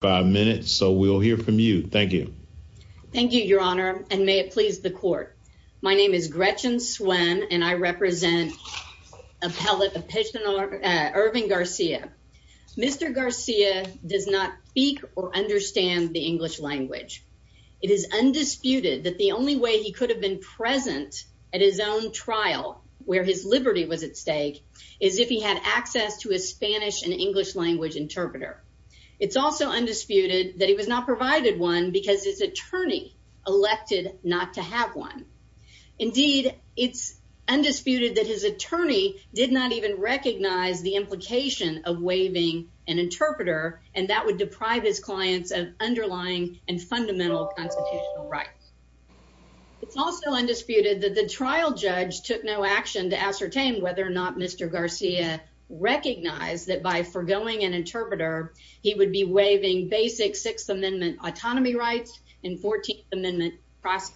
five minutes. So we'll hear from you. Thank you. Thank you, Your Honor. And may it please the court. My name is Gretchen Swann, and I represent a pellet of patient are Irving Garcia. Mr Garcia does not speak or understand the English language. It is undisputed that the only way he could have been present at his own trial where his liberty was at stake is if he had access to a Spanish and English language interpreter. It's also undisputed that he was not provided one because his attorney elected not to have one. Indeed, it's undisputed that his attorney did not even recognize the implication of waving an interpreter, and that would deprive his clients of underlying and fundamental constitutional rights. It's also undisputed that the trial judge took no action to ascertain whether or not Mr Garcia recognized that by forgoing an interpreter, he would be waving basic Sixth Amendment autonomy rights in 14th Amendment process,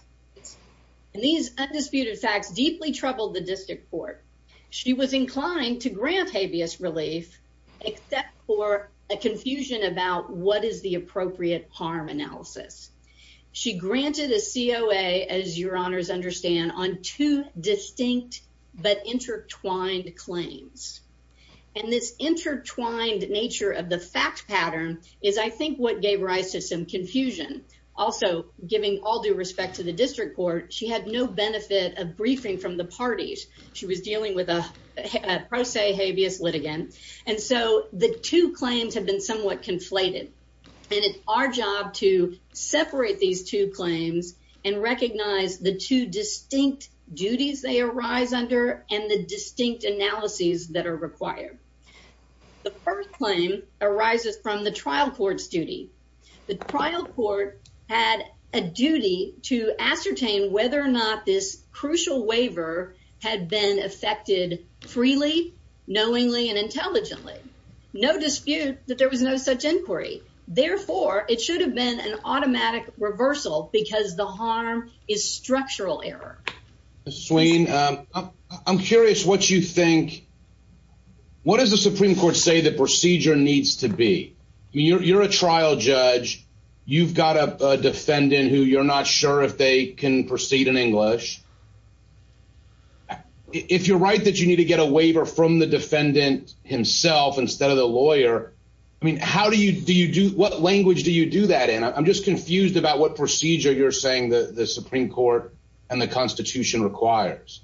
and these undisputed facts deeply troubled the district court. She was inclined to grant habeas relief except for a confusion about what is the appropriate harm analysis. She granted a C. O. A. As your honors understand on two distinct but intertwined claims, and this intertwined nature of the fact pattern is, I think, what gave rise to some confusion. Also, giving all due respect to the district court, she had no benefit of briefing from the parties. She was dealing with a pro se habeas litigant, and so the two claims have been somewhat conflated, and it's our to separate these two claims and recognize the two distinct duties they arise under and the distinct analyses that are required. The first claim arises from the trial court's duty. The trial court had a duty to ascertain whether or not this crucial waiver had been affected freely, knowingly and intelligently. No dispute that there was no such inquiry. Therefore, it should have been an automatic reversal because the harm is structural error. Swain, I'm curious what you think. What does the Supreme Court say? The procedure needs to be? You're a trial judge. You've got a defendant who you're not sure if they can proceed in English. If you're right that you need to get a waiver from the defendant himself instead of the lawyer, I mean, how do you do you do? What language do you do that in? I'm just confused about what procedure you're saying the Supreme Court and the Constitution requires.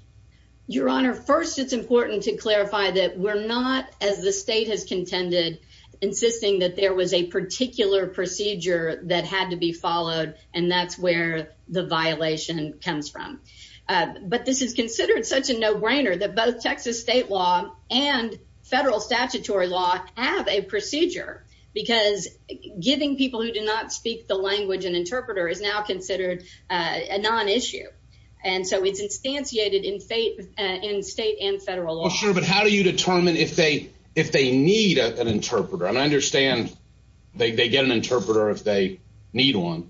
Your Honor, first, it's important to clarify that we're not as the state has contended, insisting that there was a particular procedure that had to be followed, and that's where the violation comes from. But this is considered such a no brainer that both statutory law have a procedure because giving people who do not speak the language and interpreter is now considered a non issue. And so it's instantiated in fate in state and federal law. Sure. But how do you determine if they if they need an interpreter? And I understand they get an interpreter if they need one.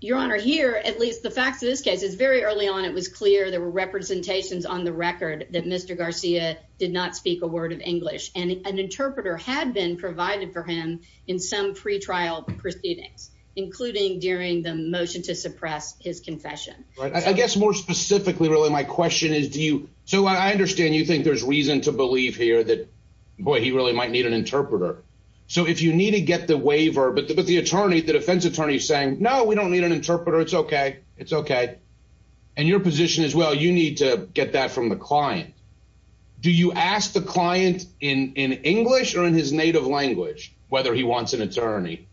Your Honor, here, at least the facts of this case is very early on. It was clear there were representations on the record that Mr Garcia did not speak a English and an interpreter had been provided for him in some pretrial proceedings, including during the motion to suppress his confession. I guess more specifically, really, my question is, do you so I understand you think there's reason to believe here that boy, he really might need an interpreter. So if you need to get the waiver, but the attorney, the defense attorney saying, No, we don't need an interpreter. It's okay. It's okay. And your position is, well, you need to get that from the client. Do you ask the client in English or in his native language whether he wants an attorney?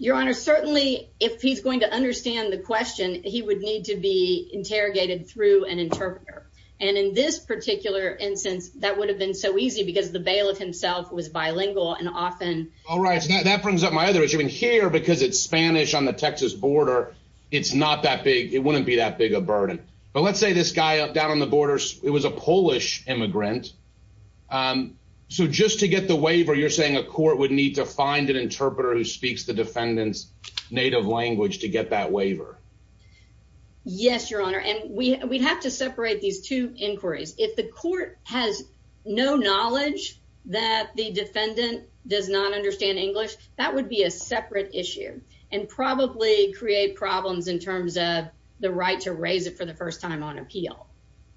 Your Honor, certainly, if he's going to understand the question, he would need to be interrogated through an interpreter. And in this particular instance, that would have been so easy because the bailiff himself was bilingual and often. All right, that brings up my other issue in here because it's Spanish on the Texas border. It's not that big. It wouldn't be that big a burden. But let's say this guy up down on the borders. It was a grant. Um, so just to get the waiver, you're saying a court would need to find an interpreter who speaks the defendant's native language to get that waiver. Yes, Your Honor. And we have to separate these two inquiries. If the court has no knowledge that the defendant does not understand English, that would be a separate issue and probably create problems in terms of the right to raise it for the first time on appeal.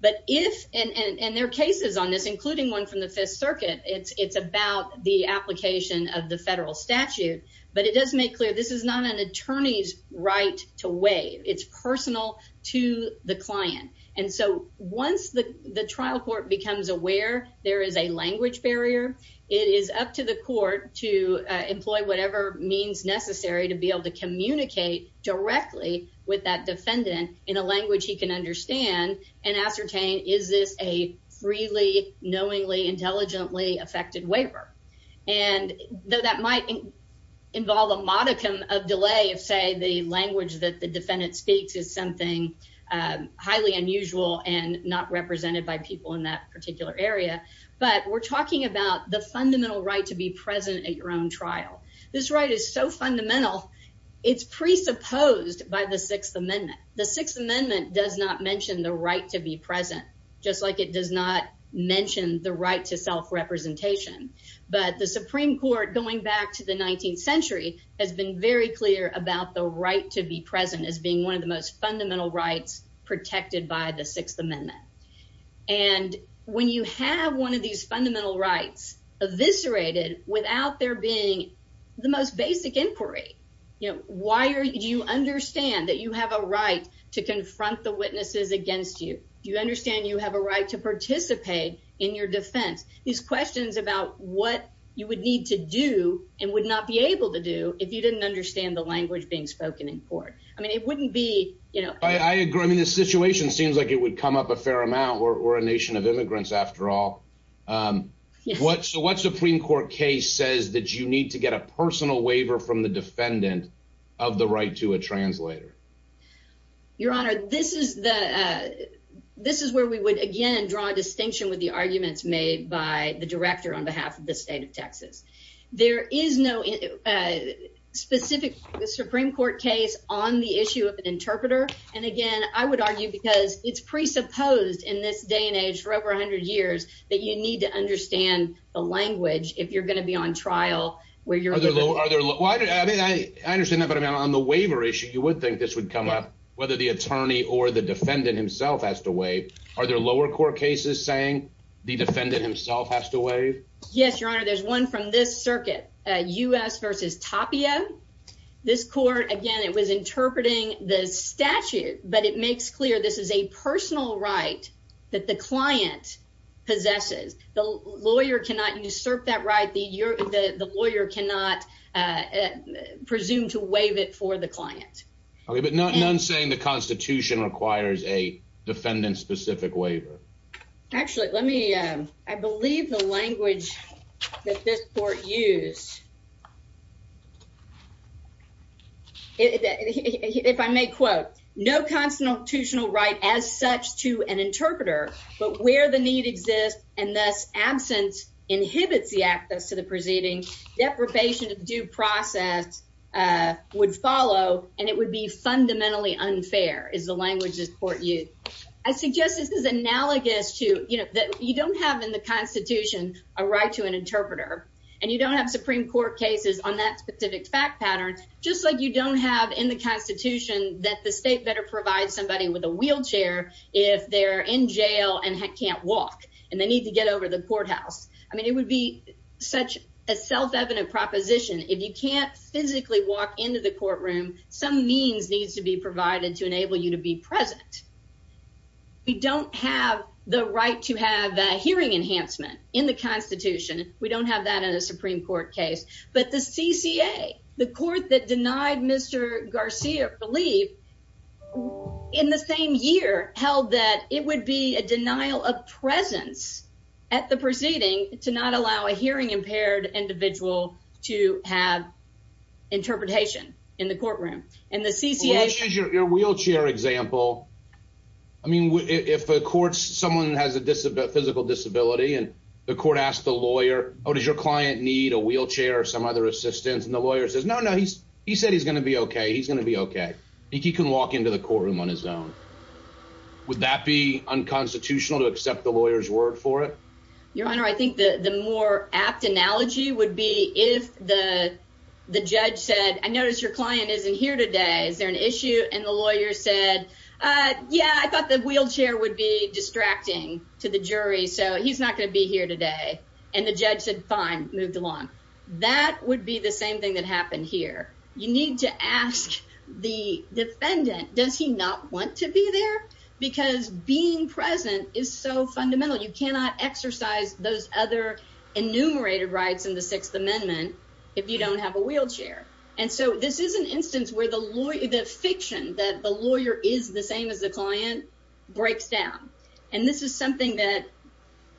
But if, and there are cases on this, including one from the Fifth Circuit, it's about the application of the federal statute. But it does make clear this is not an attorney's right to waive. It's personal to the client. And so once the trial court becomes aware there is a language barrier, it is up to the court to employ whatever means necessary to be able to communicate directly with that defendant in a language he can understand and ascertain. Is this a freely, knowingly, intelligently affected waiver? And though that might involve a modicum of delay of, say, the language that the defendant speaks is something highly unusual and not represented by people in that particular area. But we're talking about the fundamental right to be present at your own trial. This right is so fundamental. It's presupposed by the Sixth Amendment. The Sixth Amendment does not mention the right to be present, just like it does not mention the right to self-representation. But the Supreme Court, going back to the 19th century, has been very clear about the right to be present as being one of the most fundamental rights protected by the Sixth Amendment. And when you have one of these fundamental rights eviscerated without there being the most basic inquiry, you know, why do you understand that you have a right to confront the witnesses against you? Do you understand you have a right to participate in your defense? These questions about what you would need to do and would not be able to do if you didn't understand the language being spoken in court. I mean, it wouldn't be, you know... I agree. I mean, the situation seems like it would come up a fair amount. We're a Supreme Court case says that you need to get a personal waiver from the defendant of the right to a translator. Your Honor, this is where we would, again, draw a distinction with the arguments made by the director on behalf of the state of Texas. There is no specific Supreme Court case on the issue of an interpreter. And again, I would argue because it's presupposed in this day and age for over 100 years that you need to understand the language if you're going to be on trial where you're there. I understand that. But I mean, on the waiver issue, you would think this would come up whether the attorney or the defendant himself has to waive. Are there lower court cases saying the defendant himself has to waive? Yes, Your Honor. There's one from this circuit, U. S. Versus Tapia. This court, again, it was interpreting the statute, but it makes clear this is a personal right that the client possesses. The lawyer cannot usurp that right. The lawyer cannot, uh, presume to waive it for the client. Okay, but none saying the Constitution requires a defendant specific waiver. Actually, let me I believe the language that this court use it. If I may quote no constitutional right as such to an interpreter, but where the need exists and thus absence inhibits the access to the proceeding, deprivation of due process, uh, would follow, and it would be fundamentally unfair is the languages court you. I suggest this is analogous to you know that you don't have in the Constitution a right to an interpreter and you don't have Supreme Court cases on that specific fact pattern, just like you don't have in the Constitution that the state better provide somebody with a wheelchair if they're in jail and can't walk and they need to get over the courthouse. I mean, it would be such a self evident proposition. If you can't physically walk into the courtroom, some means needs to be provided to enable you to be present. We don't have the right to have hearing enhancement in the Constitution. We don't have that in the Supreme Court case, but the C. C. A. The court that denied Mr Garcia believe in the same year held that it would be a denial of presence at the proceeding to not allow a hearing impaired individual to have interpretation in the courtroom and the C. C. A. Your wheelchair example. I mean, if the courts someone has a physical disability and the court asked the lawyer, Oh, does your client need a wheelchair or some other assistance? And the lawyer says, No, no, he's he said he's gonna be okay. He's gonna be okay. He can walk into the courtroom on his own. Would that be unconstitutional to accept the lawyer's word for it? Your honor, I think the more apt analogy would be if the judge said, I notice your client isn't here today. Is there an issue? And the lawyer said, Uh, yeah, I thought the wheelchair would be distracting to the jury, so he's not gonna be here today. And the judge said, Fine, moved along. That would be the same thing that happened here. You need to ask the defendant. Does he not want to be there? Because being present is so fundamental. You cannot exercise those other enumerated rights in the Sixth Amendment if you don't have a wheelchair. And so this is an instance where the lawyer, the fiction that the lawyer is the same as the client breaks down. And this is something that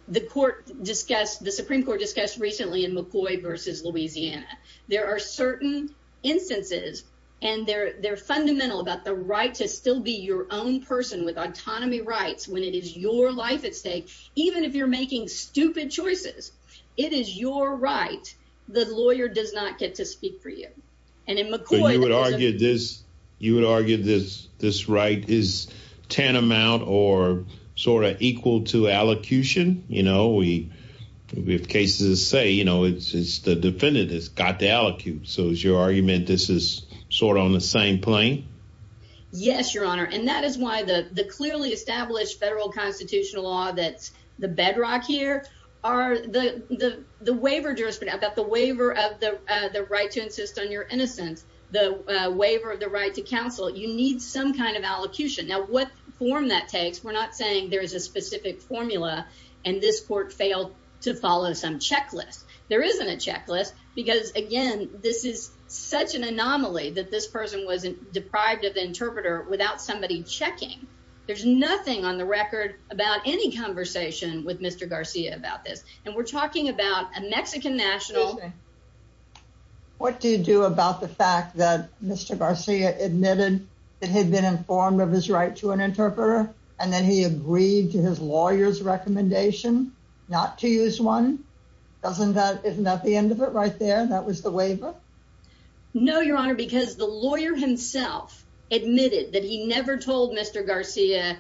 the court discussed. The Supreme Court discussed recently in McCoy versus Louisiana. There are certain instances, and they're fundamental about the right to still be your own person with autonomy rights when it is your life at stake. Even if you're making stupid choices, it is your right. The lawyer does not get to speak for you. And in McCoy would argue this. You would argue this. This right is tantamount or sort of equal to allocution. You know, we we have cases say, you know, it's the defendant has got the allocutes. So is your argument this is sort on the same plane? Yes, Your Honor. And that is why the clearly established federal constitutional law that's the bedrock here are the waiver jurisprudence that the waiver of the right to insist on your innocence, the waiver of the right to counsel. You need some kind of allocution. Now, what form that takes? We're not saying there is a specific formula, and this court failed to follow some checklist. There isn't a checklist because again, this is such an anomaly that this person was deprived of interpreter without somebody checking. There's nothing on the record about any conversation with Mr Garcia about this. And we're talking about a Mexican national. What do you do about the fact that Mr Garcia admitted that had been informed of his right to an interpreter, and then he agreed to his lawyer's recommendation not to use one? Doesn't that? Isn't that the end of it right there? That was the waiver. No, Your Honor, because the lawyer himself admitted that he never told Mr Garcia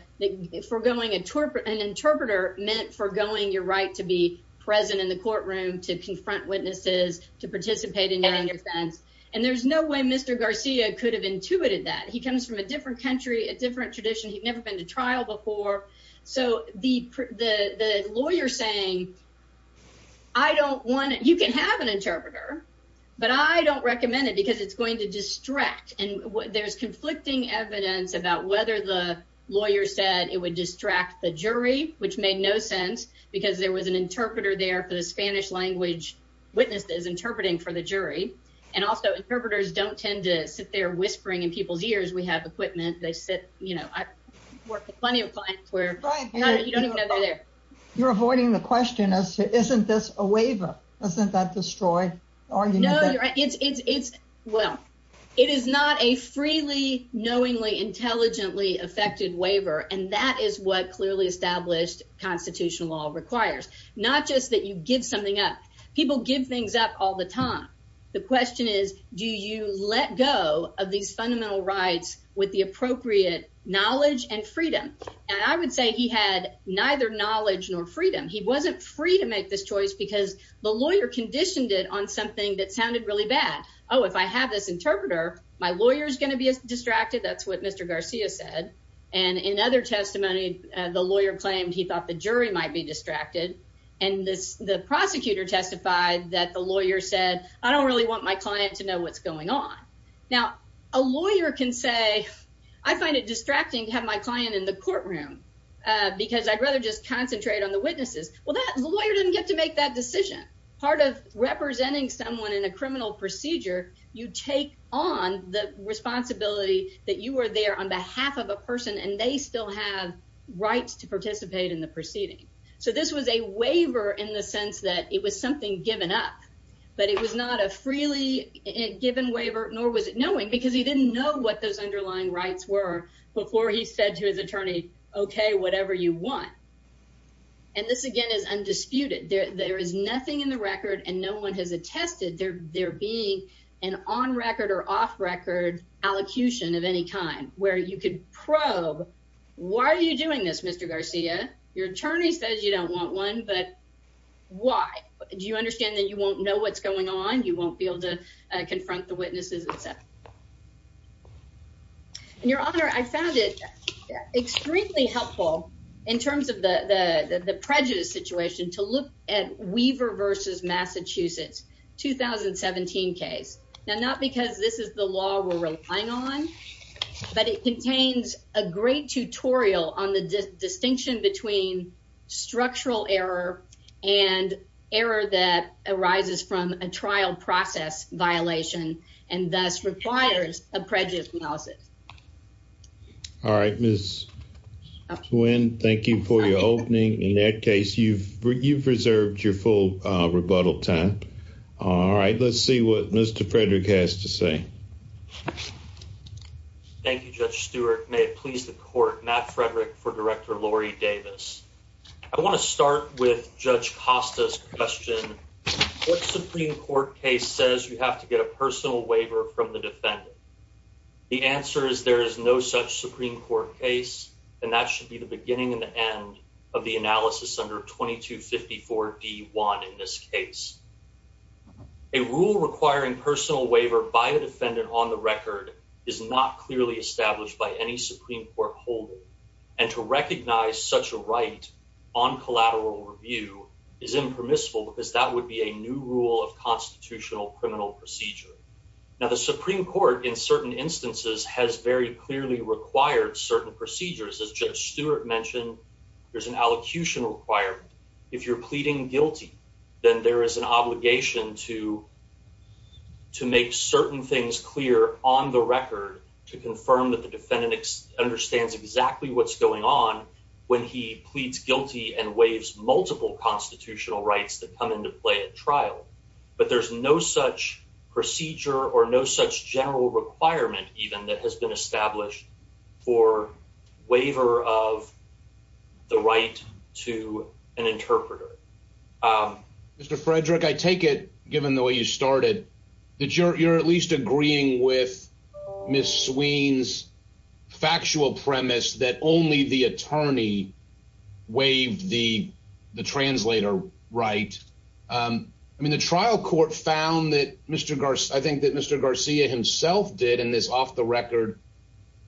foregoing interpret an interpreter meant foregoing your right to be present in the courtroom to confront witnesses to participate in your defense. And there's no way Mr Garcia could have intuited that he comes from a different country, a different tradition. He'd never been to trial before. So the lawyer saying I don't want you can have an interpreter, but I don't recommend it because it's going to distract. And there's conflicting evidence about whether the lawyer said it would distract the jury, which made no sense because there was an interpreter there for the Spanish language witnesses interpreting for the jury. And also interpreters don't tend to sit there whispering in people's ears. We have equipment. They sit. You know, I work with plenty of clients where you don't even know they're there. You're avoiding the question. Isn't this a waiver? Isn't that destroyed? No, it's Well, it is not a freely, knowingly, intelligently affected waiver. And that is what clearly established constitutional law requires. Not just that you give something up. People give things up all the time. The question is, do you let go of these fundamental rights with the appropriate knowledge and freedom? And I would say he had neither knowledge nor freedom. He wasn't free to make this choice because the lawyer conditioned it on something that sounded really bad. Oh, if I have this interpreter, my lawyer is going to be distracted. That's what Mr. Garcia said. And in other testimony, the lawyer claimed he thought the jury might be distracted. And the prosecutor testified that the lawyer said, I don't really want my client to know what's going on. Now, a lawyer can say, I find it distracting to have my client in the courtroom because I'd rather just concentrate on the witnesses. Well, that lawyer didn't get to make that take on the responsibility that you were there on behalf of a person and they still have rights to participate in the proceeding. So this was a waiver in the sense that it was something given up, but it was not a freely given waiver, nor was it knowing because he didn't know what those underlying rights were before he said to his attorney, okay, whatever you want. And this again is undisputed. There is nothing in the record and no one has tested. They're being an on record or off record allocution of any kind where you could probe. Why are you doing this, Mr Garcia? Your attorney says you don't want one. But why do you understand that you won't know what's going on? You won't be able to confront the witnesses itself. Your Honor, I found it extremely helpful in terms of the prejudice situation to look at Weaver versus Massachusetts 2017 case. Now, not because this is the law we're relying on, but it contains a great tutorial on the distinction between structural error and error that arises from a trial process violation and thus requires a prejudice analysis. All right, Miss Wynn, thank you for your opening. In that case, you've reserved your full rebuttal time. All right, let's see what Mr Frederick has to say. Thank you, Judge Stewart. May it please the court. Matt Frederick for Director Lori Davis. I want to start with Judge Costa's question. What Supreme Court case says you have to get a personal waiver from the defendant? The answer is there is no such Supreme Court case, and that should be the beginning and the end of the analysis under 22 54 d one. In this case, a rule requiring personal waiver by the defendant on the record is not clearly established by any Supreme Court holding and to recognize such a right on collateral review is impermissible because that would be a new rule of in certain instances has very clearly required certain procedures. As Judge Stewart mentioned, there's an allocution required. If you're pleading guilty, then there is an obligation to to make certain things clear on the record to confirm that the defendant ex understands exactly what's going on when he pleads guilty and waves multiple constitutional rights that come into play at trial. But there's no such procedure or no such general requirement even that has been established for waiver of the right to an interpreter. Um, Mr. Frederick, I take it, given the way you started, that you're at least agreeing with Miss Sweeney's factual premise that only the attorney waived the translator, right? Um, I mean, the trial court found that Mr Garcia, I think that Mr Garcia himself did in this off the record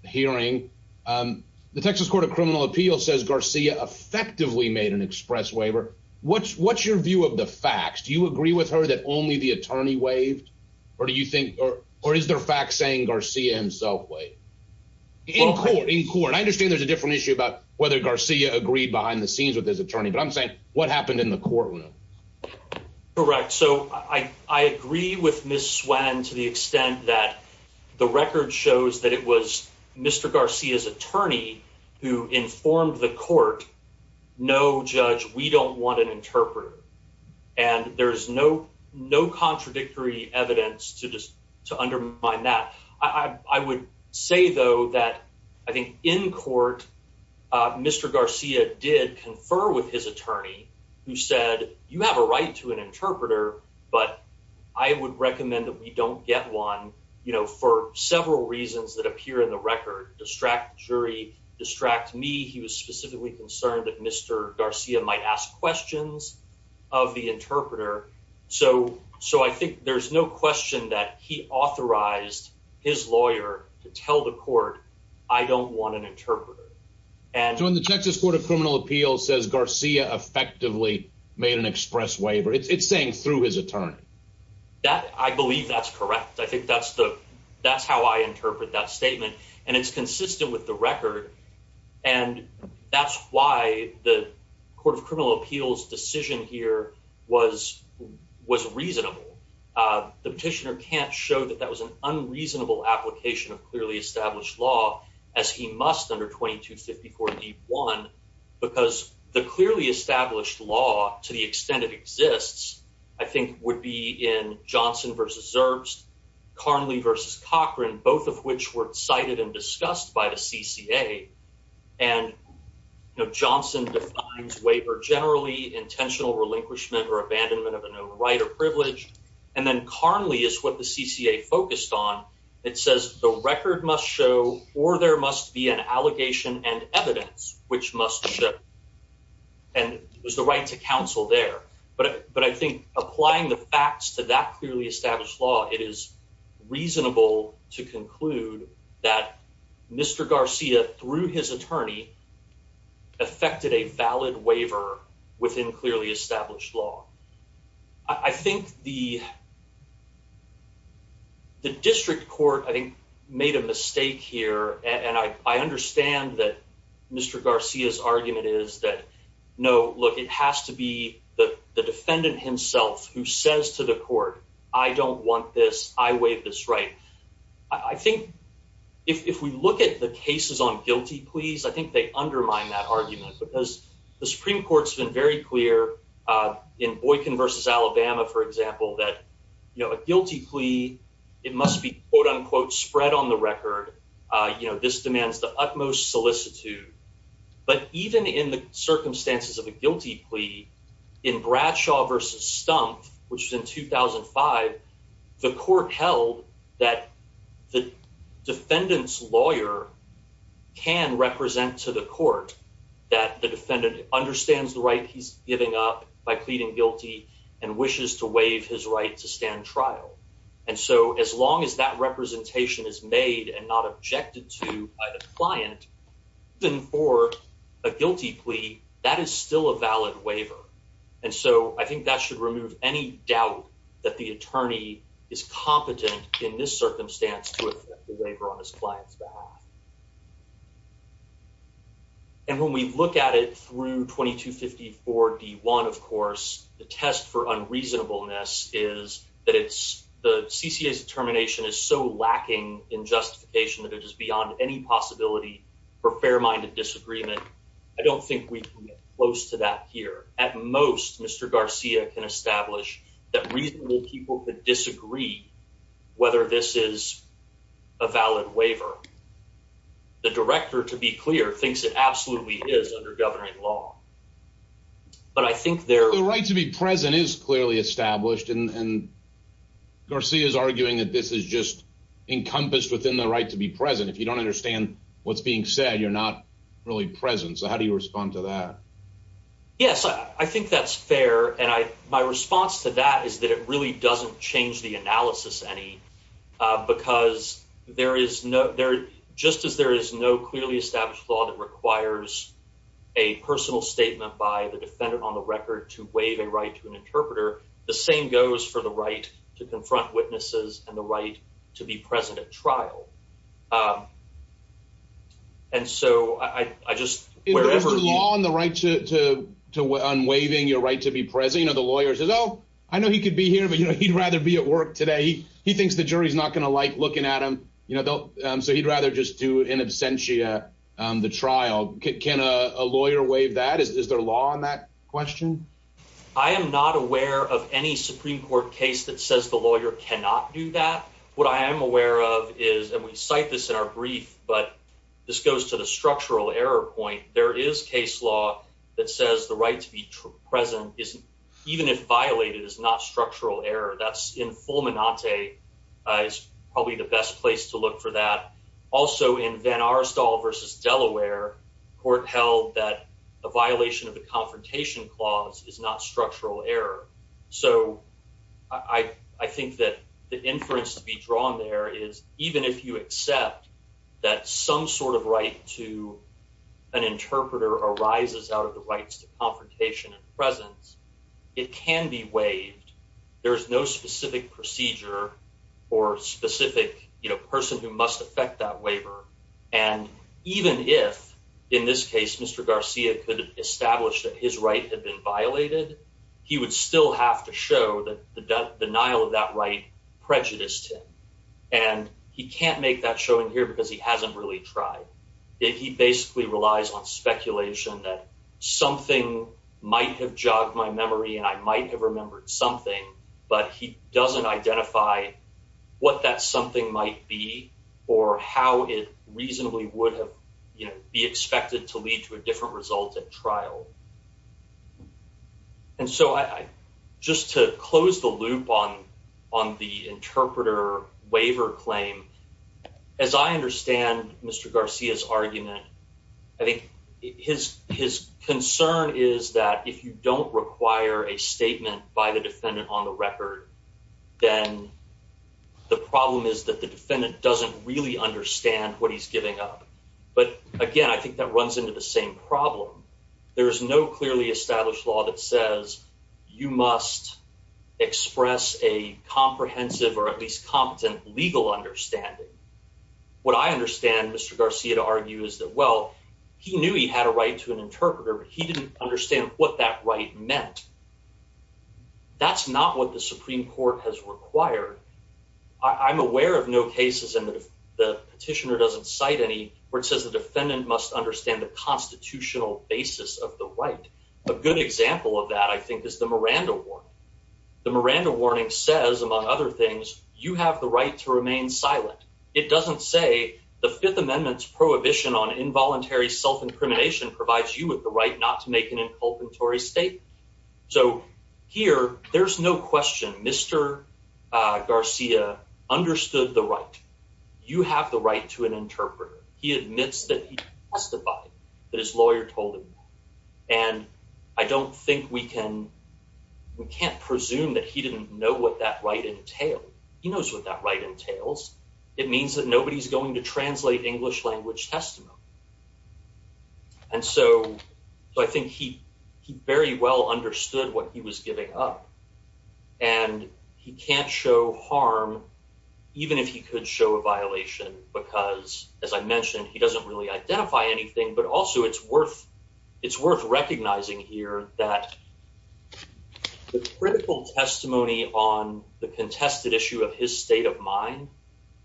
hearing. Um, the Texas Court of Criminal Appeal says Garcia effectively made an express waiver. What's what's your view of the facts? Do you agree with her that only the attorney waved? Or do you think or or is there fact saying Garcia himself way in court in court? I understand there's a different issue about whether Garcia agreed behind the scenes with his attorney. But I'm saying what happened in the courtroom. Correct. So I agree with Miss Swann to the extent that the record shows that it was Mr Garcia's attorney who informed the court. No, Judge, we don't want an interpreter. And there's no no contradictory evidence to just to undermine that. I would say, though, that I think in court, uh, Mr Garcia did confer with his attorney who said, You have a right to an interpreter, but I would recommend that we don't get one, you know, for several reasons that appear in the record. Distract jury distract me. He was specifically concerned that Mr Garcia might ask questions of the interpreter. So So I think there's no question that he authorized his lawyer to tell the and when the Texas Court of Criminal Appeals says Garcia effectively made an express waiver, it's saying through his attorney that I believe that's correct. I think that's the that's how I interpret that statement, and it's consistent with the record. And that's why the Court of Criminal Appeals decision here was was reasonable. Uh, the petitioner can't show that that was unreasonable application of clearly established law as he must under 22 54 deep one because the clearly established law, to the extent it exists, I think would be in Johnson versus herbs. Carnley versus Cochran, both of which were cited and discussed by the C C. A. And, you know, Johnson defines waiver generally intentional relinquishment or abandonment of a right or privilege. And then Carnley is what the C C. A. Focused on. It says the record must show or there must be an allegation and evidence which must show and was the right to counsel there. But but I think applying the facts to that clearly established law, it is reasonable to conclude that Mr Garcia through his attorney affected a valid waiver within clearly established law. I think the the district court, I think, made a mistake here. And I understand that Mr Garcia's argument is that no, look, it has to be the defendant himself who says to the court, I don't want this. I wave this right. I think if we look at the cases on guilty, please, I think they undermine that argument because the Supreme Court's been very clear in Boykin versus Alabama, for example, that guilty plea, it must be quote unquote spread on the record. You know, this demands the utmost solicitude. But even in the circumstances of a guilty plea in Bradshaw versus stump, which was in 2000 and five, the court held that the defendant's lawyer can represent to the court that the defendant understands the right he's giving up by pleading guilty and wishes to waive his right to stand trial. And so as long as that representation is made and not objected to by the client than for a guilty plea, that is still a valid waiver. And so I think that should remove any doubt that the attorney is circumstance to a waiver on his client's behalf. And when we look at it through 22 54 d one, of course, the test for unreasonableness is that it's the C. C. S. Determination is so lacking in justification that it is beyond any possibility for fair minded disagreement. I don't think we close to that here. At most, Mr Garcia can agree whether this is a valid waiver. The director, to be clear, thinks it absolutely is under governing law. But I think they're right to be present is clearly established. And Garcia is arguing that this is just encompassed within the right to be present. If you don't understand what's being said, you're not really present. So how do you respond to that? Yes, I think that's fair. And my response to that is that it really doesn't change the analysis any because there is no there. Just as there is no clearly established law that requires a personal statement by the defendant on the record to waive a right to an interpreter, the same goes for the right to confront witnesses and the right to be present at trial. And so I just wherever law on the right to unwaiving your right to be president of the lawyers is, oh, I know he could be here, but he'd rather be at work today. He thinks the jury's not gonna like looking at him. You know, they'll so he'd rather just do in absentia the trial. Can a lawyer wave that? Is there law on that question? I am not aware of any Supreme Court case that says the lawyer cannot do that. What I am aware of is that we cite this in our brief, but this goes to the structural error point. There is case law that says the right to be present isn't even if violated is not structural error. That's in full. Menante is probably the best place to look for that. Also, in Van Arstal versus Delaware Court held that a violation of the confrontation clause is not structural error. So I think that the inference to be drawn there is even if you accept that some sort of right to an interpreter arises out of the rights to confrontation and presence, it can be waived. There's no specific procedure or specific, you know, person who must affect that waiver. And even if, in this case, Mr Garcia could establish that his right had been violated, he would still have to show that the denial of that right prejudiced him. And he can't make that showing here because he hasn't really tried it. He basically relies on speculation that something might have jogged my memory, and I might have remembered something. But he doesn't identify what that something might be or how it reasonably would have be expected to lead to a different result at trial. And so I just to close the loop on on the interpreter waiver claim, as I understand Mr Garcia's argument, I think his his concern is that if you don't require a statement by the defendant on the record, then the problem is that the defendant doesn't really understand what he's giving up. But again, I think that runs into the same problem. There is no clearly established law that says you must express a comprehensive or at least competent legal understanding. What I understand Mr Garcia to argue is that, well, he knew he had a right to an interpreter, but he didn't understand what that right meant. That's not what the Supreme Court has required. I'm aware of no cases and the petitioner doesn't cite any where it says the defendant must understand the constitutional basis of the right. A good example of that, I think, is the Miranda War. The Miranda warning says, among other things, you have the right to remain silent. It doesn't say the Fifth Amendment's prohibition on involuntary self incrimination provides you with the right not to make an inculpatory state. So here there's no question. Mr Garcia understood the right. You have the right to an interpreter. He admits that he testified that his lawyer told him. And I don't think we can. We can't presume that he didn't know what that right entailed. He knows what that right entails. It means that nobody's going to translate English language testimony. And so I think he very well understood what he was giving up, and he can't show harm even if he could show a violation. Because, as I mentioned, he doesn't really identify anything. But also, it's worth. It's worth recognizing here that the critical testimony on the contested issue of his state of mind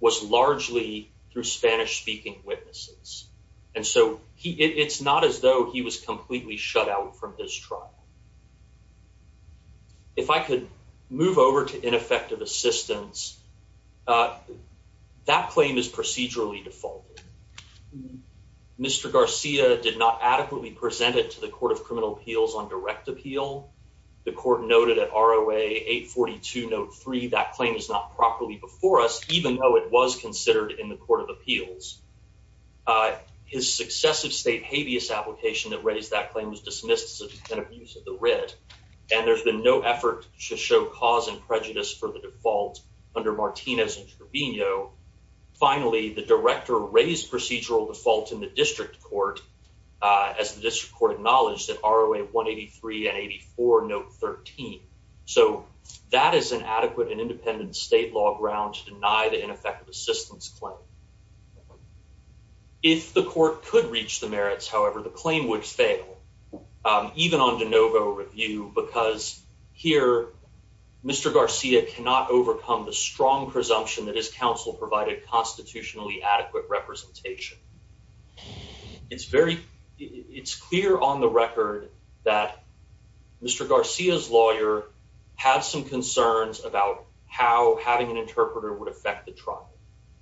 was largely through Spanish speaking witnesses. And so it's not as though he was completely shut out from his trial. Yeah, if I could move over to ineffective assistance, uh, that claim is procedurally default. Mr Garcia did not adequately presented to the Court of Criminal Appeals on direct appeal. The court noted at R. O. A. 8 42 note three. That claim is not properly before us, even though it was considered in the Court of Appeals. Uh, his successive state habeas application that raised that claim was dismissed and abuse of the red. And there's been no effort to show cause and prejudice for the default under Martinez and Trevino. Finally, the director raised procedural default in the district court, uh, as the district court acknowledged that R. O. A. 1 83 84 note 13. So that is an adequate and independent state law ground to deny the ineffective assistance claim. Okay, if the court could reach the merits, however, the claim would fail even on DeNovo review. Because here, Mr Garcia cannot overcome the strong presumption that his counsel provided constitutionally adequate representation. It's very it's clear on the record that Mr Garcia's lawyer had some concerns about how having an interpreter would affect the trial.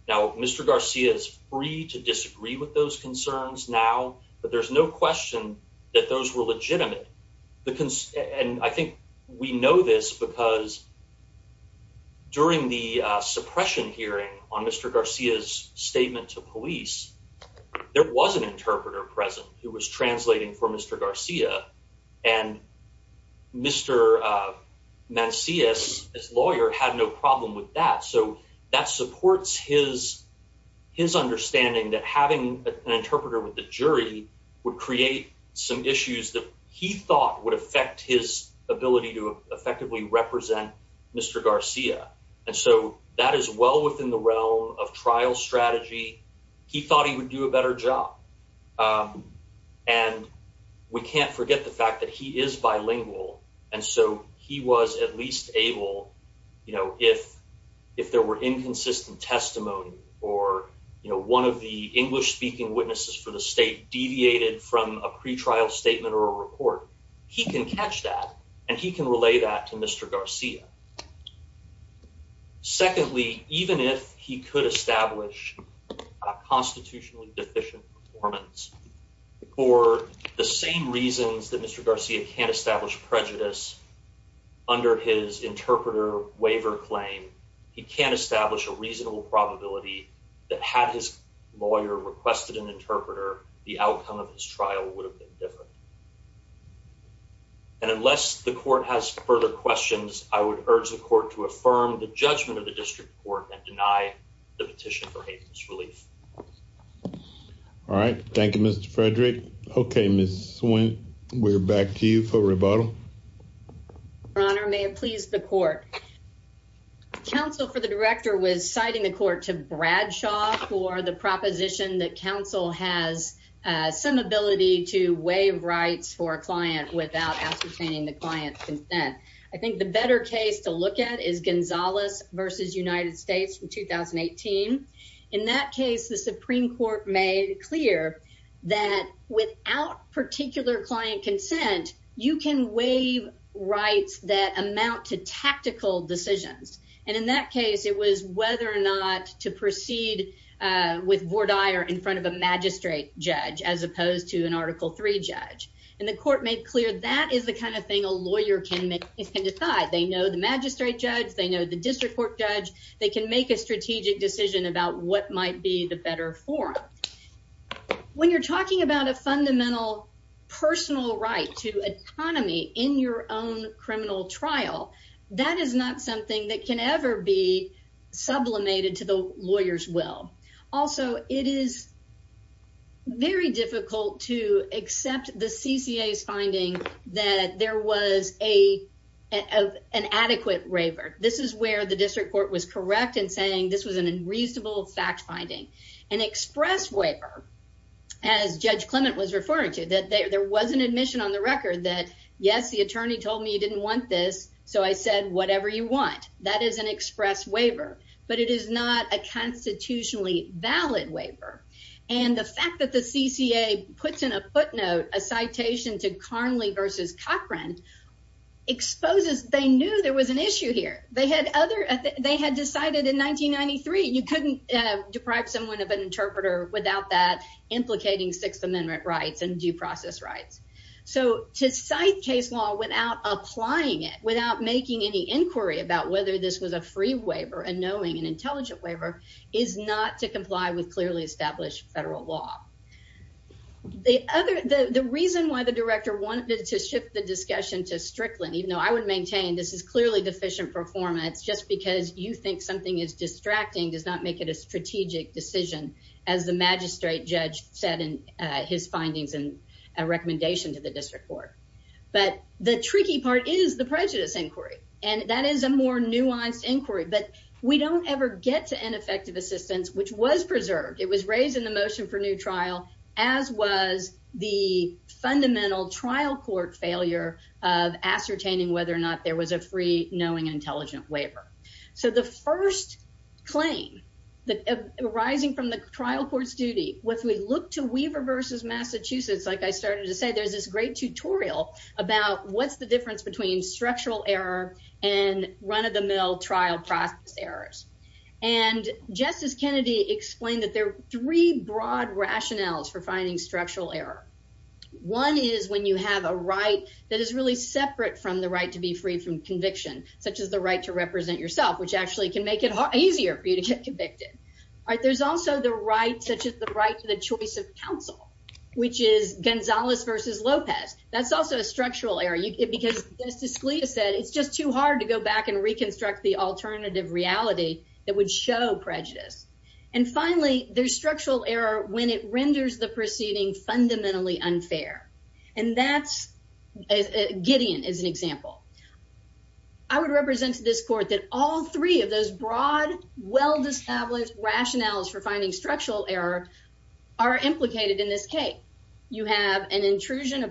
Now, Mr Garcia is free to disagree with those concerns now, but there's no question that those were legitimate. And I think we know this because during the suppression hearing on Mr Garcia's statement to police, there was an interpreter present who was translating for Mr Garcia and Mr Mancius. His lawyer had no problem with that. So that supports his his understanding that having an interpreter with the jury would create some issues that he thought would affect his ability to effectively represent Mr Garcia. And so that is well within the realm of trial strategy. He thought he would do a better job. Um, and we can't forget the fact that he is bilingual. And so he was at least able, you know, if if there were inconsistent testimony or, you know, one of the English speaking witnesses for the state deviated from a pretrial statement or report, he can catch that, and he can relay that to Mr Garcia. Secondly, even if he could establish a constitutionally deficient performance for the same reasons that Mr Garcia can't establish prejudice under his interpreter waiver claim, he can't establish a reasonable probability that had his lawyer requested an interpreter, the outcome of his trial would have been different. And unless the court has further questions, I would urge the court to affirm the judgment of the district court and deny the petition for hate relief. All right. Thank you, Mr Frederick. Okay, Miss Swin, we're back to you for rebuttal. Your Honor, may it please the court. Counsel for the director was citing the court to Bradshaw for the proposition that counsel has some ability to waive rights for a client without ascertaining the client consent. I think the better case to look at is Gonzalez versus United States from 2018. In that case, the Supreme Court made clear that without particular client consent, you can waive rights that amount to tactical decisions. And in that case, it was whether or not to proceed with Vordire in front of a magistrate judge as opposed to an Article three judge. And the court made clear that is the kind of thing a lawyer can make. It can the magistrate judge. They know the district court judge. They can make a strategic decision about what might be the better for when you're talking about a fundamental personal right to autonomy in your own criminal trial. That is not something that can ever be sublimated to the lawyer's will. Also, it is very difficult to accept the C. C. A. S. Finding that there was a of an adequate waiver. This is where the district court was correct in saying this was an unreasonable fact finding an express waiver as Judge Clement was referring to that there was an admission on the record that yes, the attorney told me you didn't want this. So I said, whatever you want, that is an express waiver, but it is not a constitutionally valid waiver. And the fact that the C. C. A. S. Puts in a footnote a citation to Carly versus Cochran exposes they knew there was an issue here. They had other they had decided in 1993 you couldn't deprive someone of an interpreter without that implicating Sixth Amendment rights and due process rights. So to cite case law without applying it without making any inquiry about whether this was a free waiver and knowing an intelligent waiver is not to comply with clearly established federal law. The other the reason why the director wanted to shift the discussion to Strickland, even though I would maintain this is clearly deficient performance. Just because you think something is distracting does not make it a strategic decision, as the magistrate judge said in his findings and recommendation to the district court. But the tricky part is the inquiry. But we don't ever get to ineffective assistance, which was preserved. It was raised in the motion for new trial, as was the fundamental trial court failure of ascertaining whether or not there was a free knowing intelligent waiver. So the first claim that arising from the trial court's duty with we look to Weaver versus Massachusetts, like I started to say, there's this great tutorial about what's the difference between structural error and run of the mill trial process errors. And Justice Kennedy explained that there are three broad rationales for finding structural error. One is when you have a right that is really separate from the right to be free from conviction, such as the right to represent yourself, which actually can make it easier for you to get convicted. There's also the right such as the right to the choice of counsel, which is Gonzalez versus Lopez. That's also a hard to go back and reconstruct the alternative reality that would show prejudice. And finally, there's structural error when it renders the proceeding fundamentally unfair. And that's Gideon is an example. I would represent this court that all three of those broad, well established rationales for finding structural error are implicated in this case. You have an situation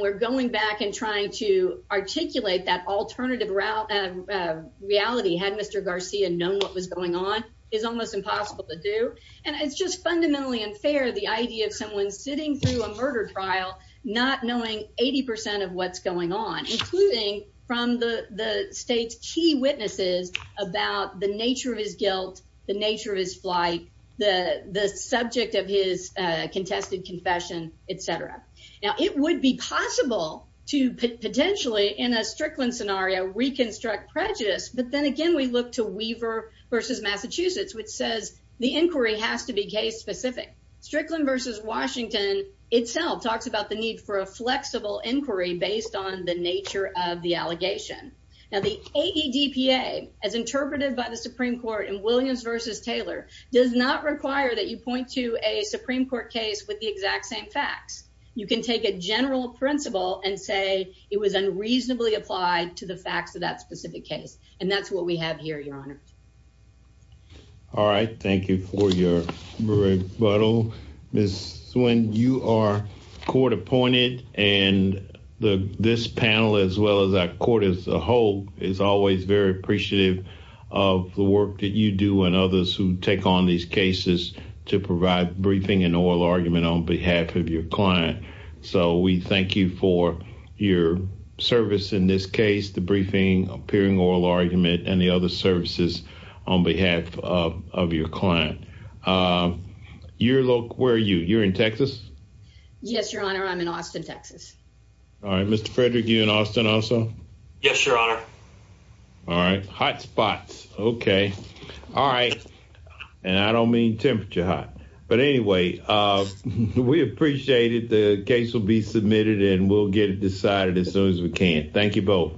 where going back and trying to articulate that alternative route of reality had Mr Garcia known what was going on is almost impossible to do. And it's just fundamentally unfair. The idea of someone sitting through a murder trial, not knowing 80% of what's going on, including from the state's key witnesses about the nature of his guilt, the nature of his flight, the subject of his contested confession, etc. Now, it would be possible to potentially in a Strickland scenario, reconstruct prejudice. But then again, we look to Weaver versus Massachusetts, which says the inquiry has to be case specific. Strickland versus Washington itself talks about the need for a flexible inquiry based on the nature of the allegation. Now, the AEDPA, as interpreted by the Supreme Court and Williams versus Taylor does not require that you point to a Supreme Court case with the exact same facts. You can take a general principle and say it was unreasonably applied to the facts of that specific case. And that's what we have here, Your Honor. All right, thank you for your rebuttal. Ms Swin, you are court appointed and this panel, as well as that court as a whole, is always very appreciative of the work that you do and others who take on these cases to provide briefing and oral argument on behalf of your client. So we thank you for your service in this case, the briefing, appearing oral argument and the other services on behalf of your client. Your look, where are you? You're in Texas? Yes, Your Honor. I'm in Austin, Texas. All right, Mr. Frederick, you in Austin also? Yes, Your Honor. All right, hot spots. Okay. All right. And I don't mean temperature hot. But anyway, we appreciate it. The case will be submitted and we'll get it decided as soon as we can. Thank you both.